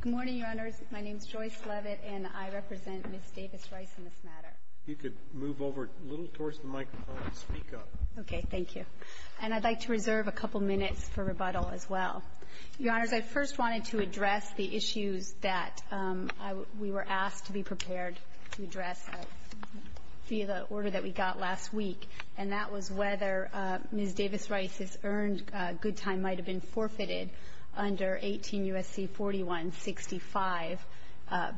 Good morning, Your Honors. My name is Joyce Leavitt, and I represent Ms. Davis-Rice in this matter. If you could move over a little towards the microphone and speak up. Okay. Thank you. And I'd like to reserve a couple minutes for rebuttal as well. Your Honors, I first wanted to address the issues that we were asked to be prepared to address via the order that we got last week, and that was whether Ms. Davis-Rice's earned good time might have been forfeited under 18 U.S.C. 4165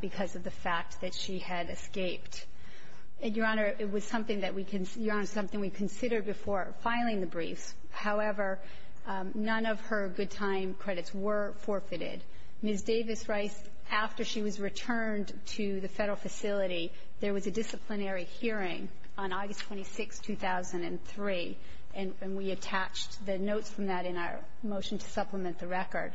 because of the fact that she had escaped. And, Your Honor, it was something that we considered before filing the briefs. However, none of her good time credits were forfeited. Ms. Davis-Rice, after she was returned to the Federal facility, there was a disciplinary hearing on August 26, 2003. And we attached the notes from that in our motion to supplement the record.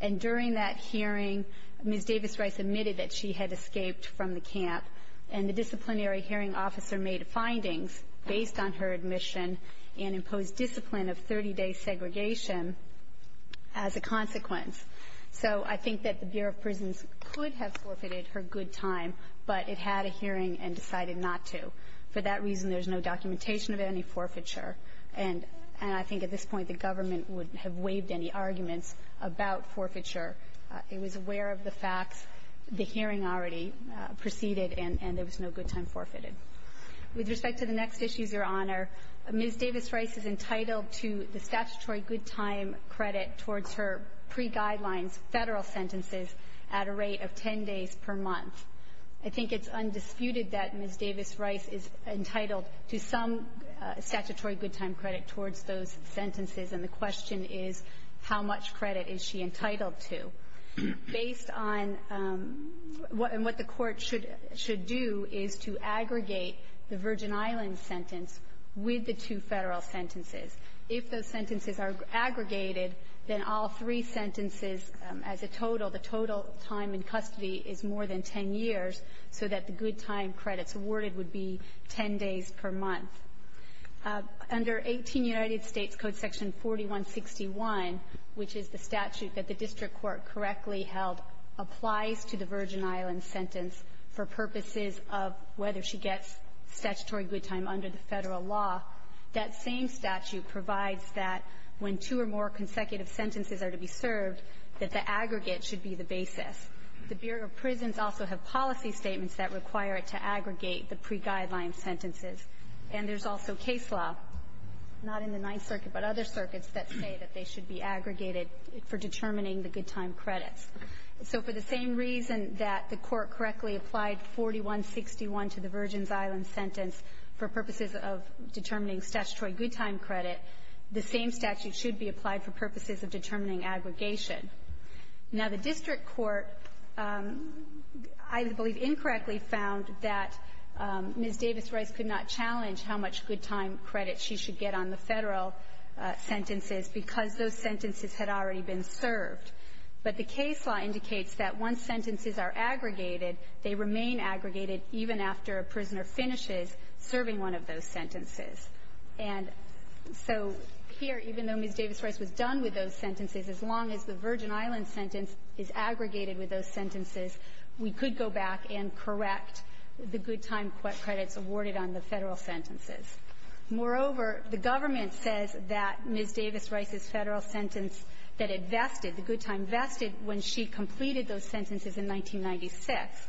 And during that hearing, Ms. Davis-Rice admitted that she had escaped from the camp, and the disciplinary hearing officer made findings based on her admission and imposed discipline of 30-day segregation as a consequence. So I think that the Bureau of Prisons could have forfeited her good time, but it had a hearing and decided not to. For that reason, there's no documentation of any forfeiture. And I think at this point the government wouldn't have waived any arguments about forfeiture. It was aware of the facts, the hearing already proceeded, and there was no good time forfeited. With respect to the next issues, Your Honor, Ms. Davis-Rice is entitled to the statutory good time credit towards her pre-guidelines Federal sentences at a rate of 10 days per month. I think it's undisputed that Ms. Davis-Rice is entitled to some statutory good time credit towards those sentences. And the question is, how much credit is she entitled to? Based on what the Court should do is to aggregate the Virgin Islands sentence with the two Federal sentences. If those sentences are aggregated, then all three sentences as a total, the total time in custody is more than 10 years, so that the good time credits awarded would be 10 days per month. Under 18 United States Code Section 4161, which is the statute that the district court correctly held applies to the Virgin Islands sentence for purposes of whether she gets statutory good time under the Federal law, that same statute provides that when two or more consecutive sentences are to be served, that the aggregate should be the basis. The Bureau of Prisons also have policy statements that require it to aggregate the pre-guideline sentences. And there's also case law, not in the Ninth Circuit but other circuits, that say that they should be aggregated for determining the good time credits. So for the same reason that the Court correctly applied 4161 to the Virgin Islands sentence for purposes of determining statutory good time credit, the same statute should be applied for purposes of determining aggregation. Now, the district court, I believe, incorrectly found that Ms. Davis Rice could not challenge how much good time credit she should get on the Federal sentences because those sentences had already been served. But the case law indicates that once sentences are aggregated, they remain aggregated even after a prisoner finishes serving one of those sentences. And so here, even though Ms. Davis Rice was done with those sentences, as long as the Virgin Islands sentence is aggregated with those sentences, we could go back and correct the good time credits awarded on the Federal sentences. Moreover, the government says that Ms. Davis Rice's Federal sentence that it vested, the good time vested, when she completed those sentences in 1996.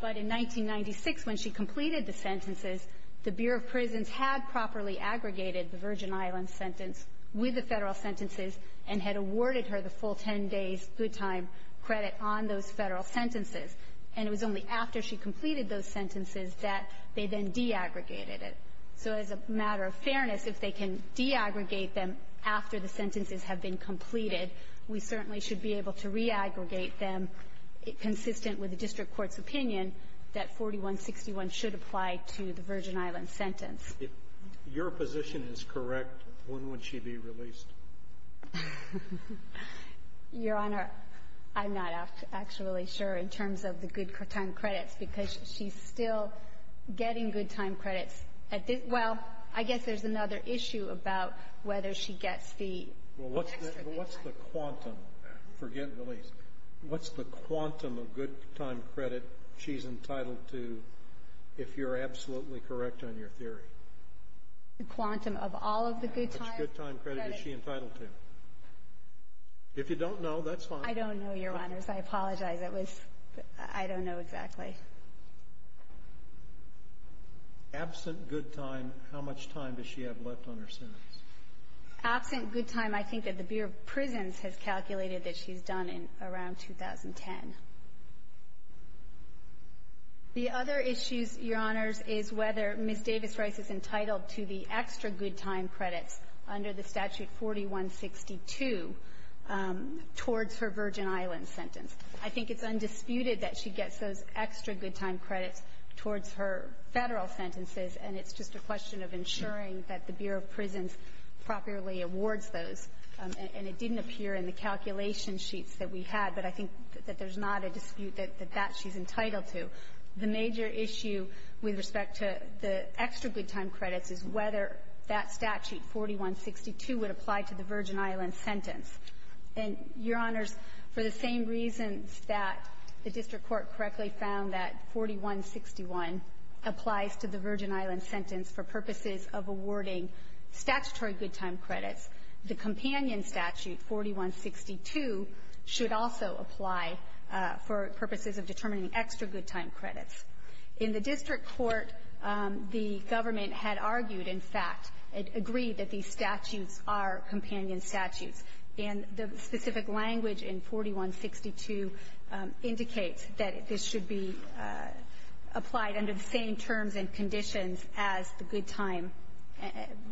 But in 1996, when she completed the sentences, the Bureau of Prisons had properly aggregated the Virgin Islands sentence with the Federal sentences and had awarded her the full 10 days' good time credit on those Federal sentences. And it was only after she completed those sentences that they then de-aggregated it. So as a matter of fairness, if they can de-aggregate them after the sentences have been completed, we certainly should be able to re-aggregate them, consistent with the district court's opinion, that 4161 should apply to the Virgin Islands sentence. If your position is correct, when would she be released? Your Honor, I'm not actually sure in terms of the good time credits, because she's still getting good time credits at this — well, I guess there's another issue about whether she gets the extra good time. Well, what's the quantum — forget release — what's the quantum of good time credit she's entitled to, if you're absolutely correct on your theory? The quantum of all of the good time credits? How much good time credit is she entitled to? If you don't know, that's fine. I don't know, Your Honors. I apologize. It was — I don't know exactly. Absent good time, how much time does she have left on her sentence? Absent good time, I think that the Bureau of Prisons has calculated that she's done in around 2010. The other issues, Your Honors, is whether Ms. Davis-Rice is entitled to the extra good time credits under the Statute 4162 towards her Virgin Islands sentence. I think it's undisputed that she gets those extra good time credits towards her Federal sentences, and it's just a question of ensuring that the Bureau of Prisons properly awards those. And it didn't appear in the calculation sheets that we had, but I think that there's not a dispute that that she's entitled to. The major issue with respect to the extra good time credits is whether that statute, 4162, would apply to the Virgin Islands sentence. And, Your Honors, for the same reasons that the district court correctly found that 4161 applies to the Virgin Islands, statutory good time credits, the companion statute, 4162, should also apply for purposes of determining extra good time credits. In the district court, the government had argued, in fact, had agreed that these statutes are companion statutes. And the specific language in 4162 indicates that this should be applied under the same terms and conditions as the good time,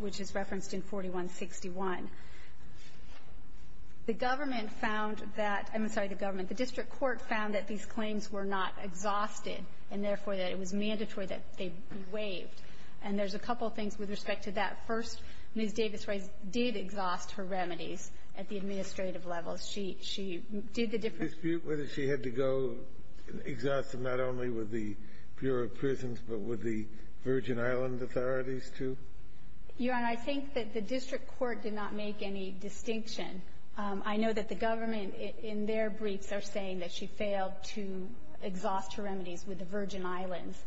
which is the same terms as the good time, which is referenced in 4161. The government found that — I'm sorry, the government. The district court found that these claims were not exhausted, and therefore, that it was mandatory that they be waived. And there's a couple of things with respect to that. First, Ms. Davis-Reyes did exhaust her remedies at the administrative level. She — she did the different — Kennedy. Dispute whether she had to go exhaust them not only with the Bureau of Prisons, but with the Virgin Island authorities, too? Your Honor, I think that the district court did not make any distinction. I know that the government, in their briefs, are saying that she failed to exhaust her remedies with the Virgin Island's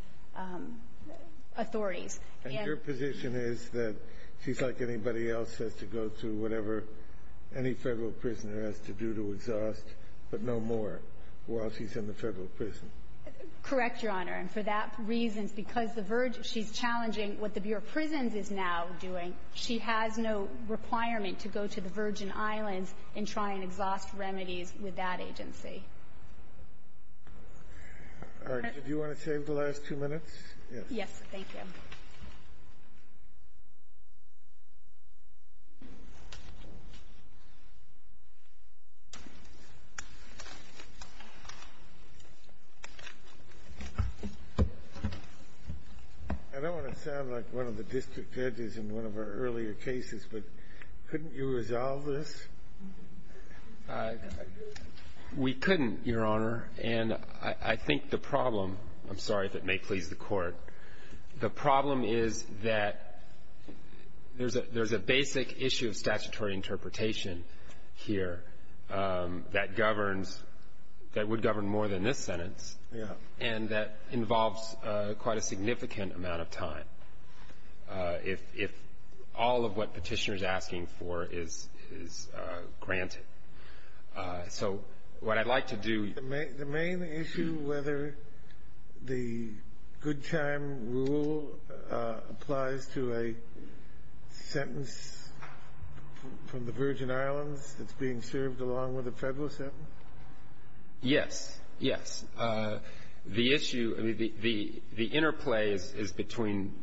authorities. And your position is that she's like anybody else, says to go through whatever any Federal prisoner has to do to exhaust, but no more, while she's in the Federal prison? Correct, Your Honor. And for that reason, because the — she's challenging what the Bureau of Prisons is now doing. She has no requirement to go to the Virgin Islands and try and exhaust remedies with that agency. All right. Do you want to save the last two minutes? Yes. Yes. Thank you. I don't want to sound like one of the district judges in one of our earlier cases, but couldn't you resolve this? We couldn't, Your Honor. And I think the problem — I'm sorry if it may please the Court. The problem is that there's a — there's a basic issue of statutory interpretation here that governs — that would govern more than this sentence and that involves quite a significant amount of time if all of what Petitioner's asking for is granted. So what I'd like to do — The main issue, whether the good time rule applies to a sentence from the Virgin Islands that's being served along with a Federal sentence? Yes. Yes. The issue — I mean, the interplay is between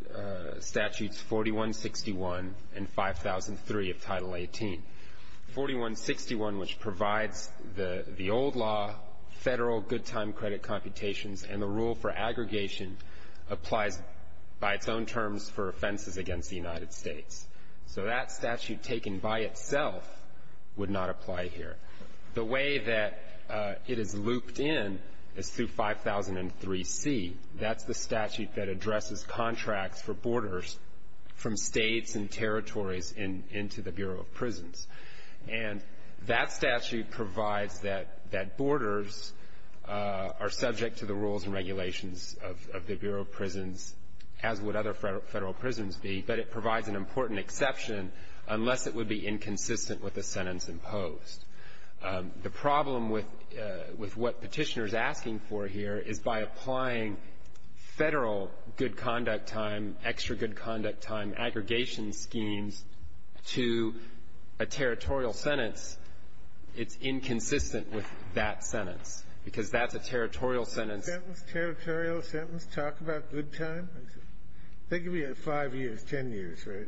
Statutes 4161 and 5003 of Title 18. 4161, which provides the old law, Federal good time credit computations, and the rule for aggregation applies by its own terms for offenses against the United States. So that statute taken by itself would not apply here. The way that it is looped in is through 5003C. That's the statute that addresses contracts for borders from states and territories into the Bureau of Prisons. And that statute provides that borders are subject to the rules and regulations of the Bureau of Prisons, as would other Federal prisons be. But it provides an important exception unless it would be inconsistent with the sentence imposed. The problem with what Petitioner's asking for here is by applying Federal good conduct time, extra good conduct time, aggregation schemes to a territorial sentence, it's inconsistent with that sentence, because that's a territorial sentence. Sentence, territorial sentence, talk about good time? They give you five years, ten years, right,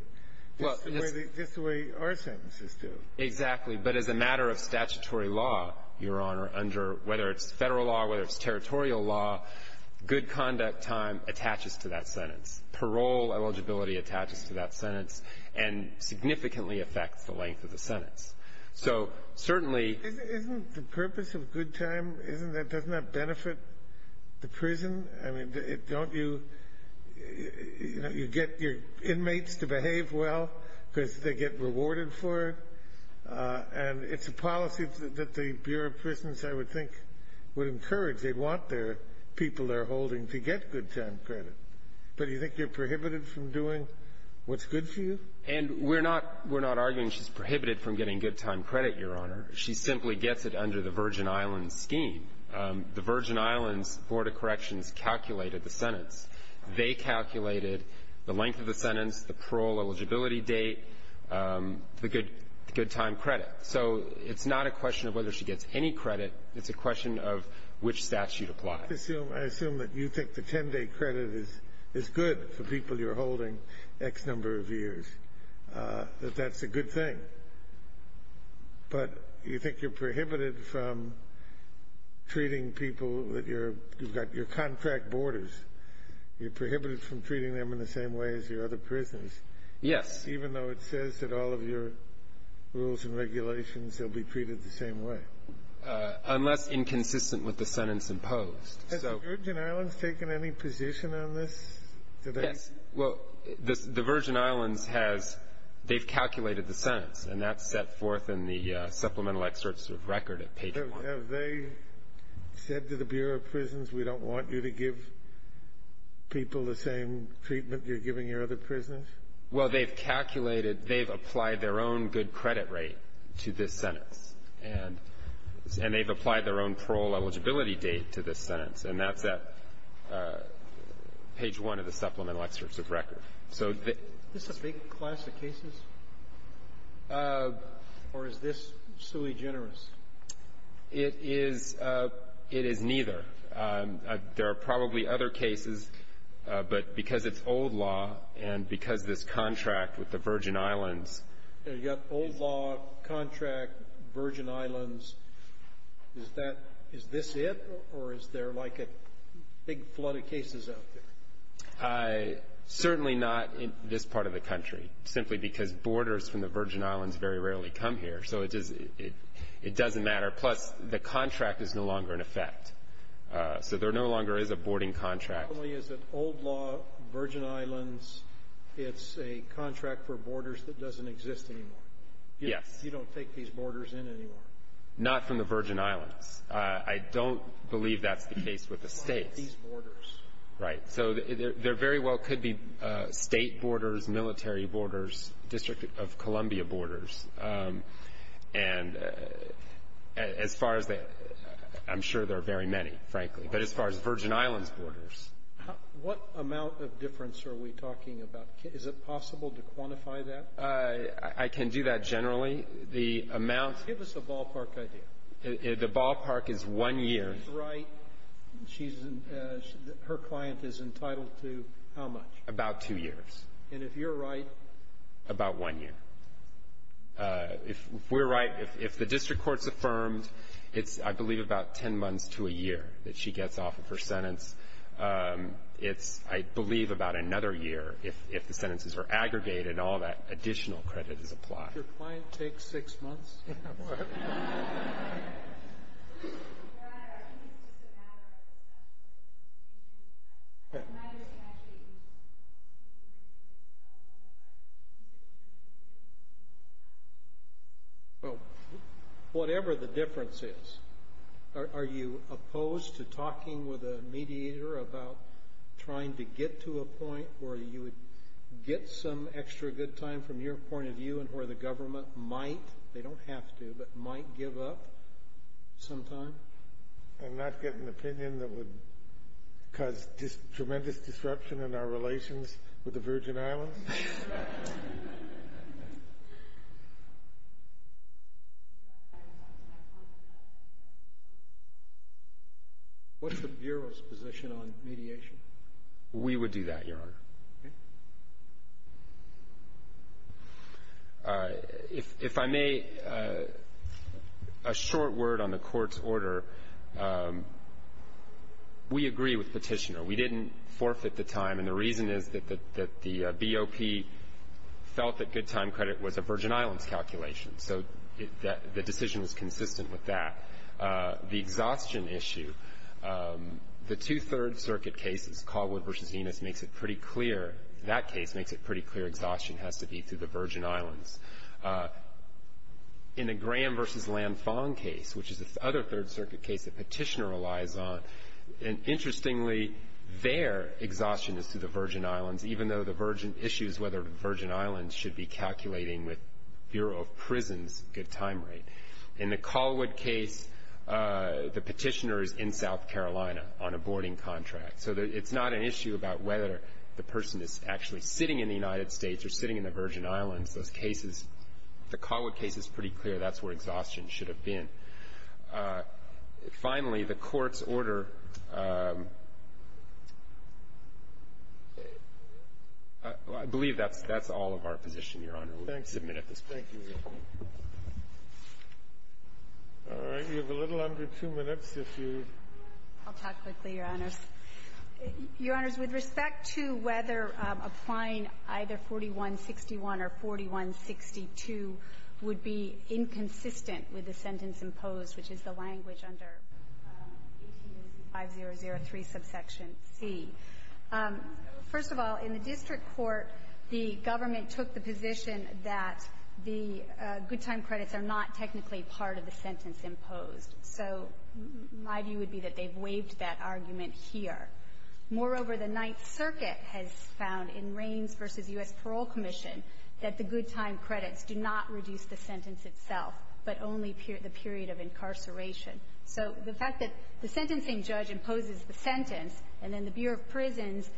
just the way our sentences do. Exactly. But as a matter of statutory law, Your Honor, under — whether it's Federal law or whether it's territorial law, good conduct time attaches to that sentence. Parole eligibility attaches to that sentence and significantly affects the length of the sentence. So certainly — Isn't the purpose of good time, isn't that — doesn't that benefit the prison? I mean, don't you — you get your inmates to behave well because they get rewarded for it? And it's a policy that the Bureau of Prisons, I would think, would encourage. They want their people they're holding to get good time credit. But do you think you're prohibited from doing what's good for you? And we're not — we're not arguing she's prohibited from getting good time credit, Your Honor. She simply gets it under the Virgin Islands scheme. The Virgin Islands Board of Corrections calculated the sentence. They calculated the length of the sentence, the parole eligibility date, the good time credit. So it's not a question of whether she gets any credit. It's a question of which statute applies. I assume — I assume that you think the 10-day credit is good for people you're holding X number of years, that that's a good thing. But you think you're prohibited from treating people that you're — you've got your contract borders. You're prohibited from treating them in the same way as your other prisoners. Yes. Even though it says that all of your rules and regulations, they'll be treated the same way. Unless inconsistent with the sentence imposed. Has the Virgin Islands taken any position on this? Yes. Well, the Virgin Islands has — they've calculated the sentence, and that's set forth in the supplemental excerpts of record at page 1. Have they said to the Bureau of Prisons, we don't want you to give people the same treatment you're giving your other prisoners? Well, they've calculated — they've applied their own good credit rate to this sentence, and they've applied their own parole eligibility date to this sentence, and that's at page 1 of the supplemental excerpts of record. So the — Is this a big class of cases, or is this sui generis? It is — it is neither. There are probably other cases, but because it's old law and because this contract with the Virgin Islands — You've got old law, contract, Virgin Islands. Is that — is this it, or is there, like, a big flood of cases out there? Certainly not in this part of the country, simply because borders from the Virgin Islands very rarely come here. So it is — it doesn't matter. Plus, the contract is no longer in effect. So there no longer is a boarding contract. Not only is it old law, Virgin Islands, it's a contract for borders that doesn't exist anymore. Yes. You don't take these borders in anymore. Not from the Virgin Islands. I don't believe that's the case with the States. These borders. Right. So there very well could be State borders, military borders, District of Columbia borders. And as far as the — I'm sure there are very many, frankly. But as far as Virgin Islands borders — What amount of difference are we talking about? Is it possible to quantify that? I can do that generally. The amount — Give us the ballpark idea. The ballpark is one year. If she's right, she's — her client is entitled to how much? About two years. And if you're right? About one year. If we're right, if the district court's affirmed, it's, I believe, about 10 months to a year that she gets off of her sentence. It's, I believe, about another year if the sentences are aggregated and all that additional credit is applied. Does your client take six months? Yeah, boy. Your Honor, I think it's just a matter of assessment of the situation. I might have to actually use — Well, whatever the difference is, are you opposed to talking with a mediator about trying to get to a point where you would get some extra good time from your point of view and where the government might — they don't have to, but might give up sometime? And not get an opinion that would cause tremendous disruption in our relations with the Virgin Islands? What's the Bureau's position on mediation? We would do that, Your Honor. If I may, a short word on the court's order. We agree with Petitioner. We didn't forfeit the time. And the reason is that the BOP felt that good time credit was a Virgin Islands calculation. So the decision was consistent with that. The exhaustion issue, the two Third Circuit cases, Caldwell v. Enos, makes it pretty clear — that case makes it pretty clear exhaustion has to be to the Virgin Islands. In the Graham v. Lanfong case, which is this other Third Circuit case that Petitioner relies on, and interestingly, their exhaustion is to the Virgin Islands, even though the Virgin issues whether the Virgin Islands should be calculating with Bureau of Prisons good time rate. In the Caldwell case, the Petitioner is in South Carolina on a boarding contract. So it's not an issue about whether the person is actually sitting in the United States or sitting in the Virgin Islands. Those cases — the Caldwell case is pretty clear. That's where exhaustion should have been. Finally, the court's order — I believe that's all of our position, Your Honor. We're going to submit at this point. Thank you, Your Honor. All right. You have a little under two minutes, if you — I'll talk quickly, Your Honors. Your Honors, with respect to whether applying either 4161 or 4162 would be inconsistent with the sentence imposed, which is the language under 1865003, subsection C, first of all, in the district court, the government took the position that the good time credits are not technically part of the sentence imposed. So my view would be that they've waived that argument here. Moreover, the Ninth Circuit has found in Raines v. U.S. Parole Commission that the good time credits do not reduce the sentence itself, but only the period of incarceration. So the fact that the sentencing judge imposes the sentence, and then the Bureau of Prisons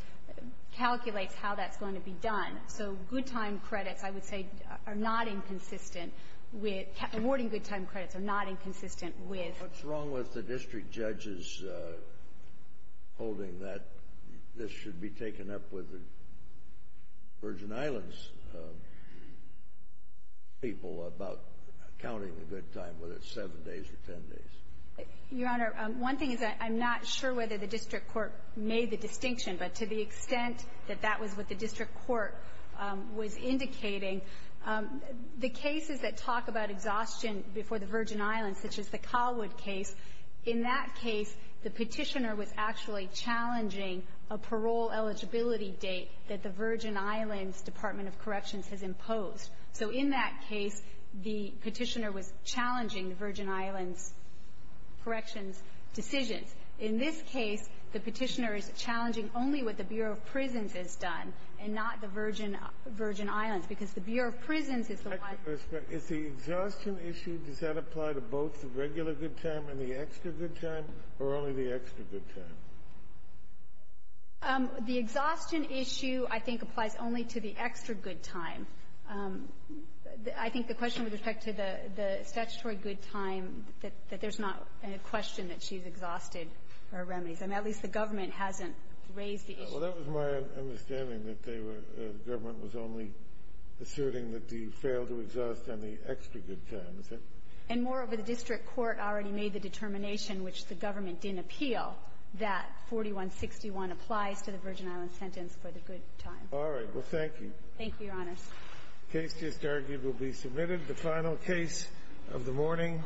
calculates how that's going to be done. So good time credits, I would say, are not inconsistent with — awarding good time credits are not inconsistent with — What's wrong with the district judges holding that this should be taken up with the Virgin Islands people about counting the good time, whether it's seven days or ten days? Your Honor, one thing is that I'm not sure whether the district court made the distinction. But to the extent that that was what the district court was indicating, the cases that talk about exhaustion before the Virgin Islands, such as the Colwood case, in that case, the Petitioner was actually challenging a parole eligibility date that the Virgin Islands Department of Corrections has imposed. So in that case, the Petitioner was challenging the Virgin Islands Corrections decisions. In this case, the Petitioner is challenging only what the Bureau of Prisons has done and not the Virgin Islands, because the Bureau of Prisons is the one — Is the exhaustion issue, does that apply to both the regular good time and the extra good time, or only the extra good time? The exhaustion issue, I think, applies only to the extra good time. I think the question with respect to the statutory good time, that there's not a question that she's exhausted her remedies. I mean, at least the government hasn't raised the issue. Well, that was my understanding, that they were — the government was only asserting that they failed to exhaust any extra good time, is that — And moreover, the district court already made the determination, which the government didn't appeal, that 4161 applies to the Virgin Islands sentence for the good time. All right. Well, thank you. Thank you, Your Honors. Case just argued will be submitted. The final case of the morning.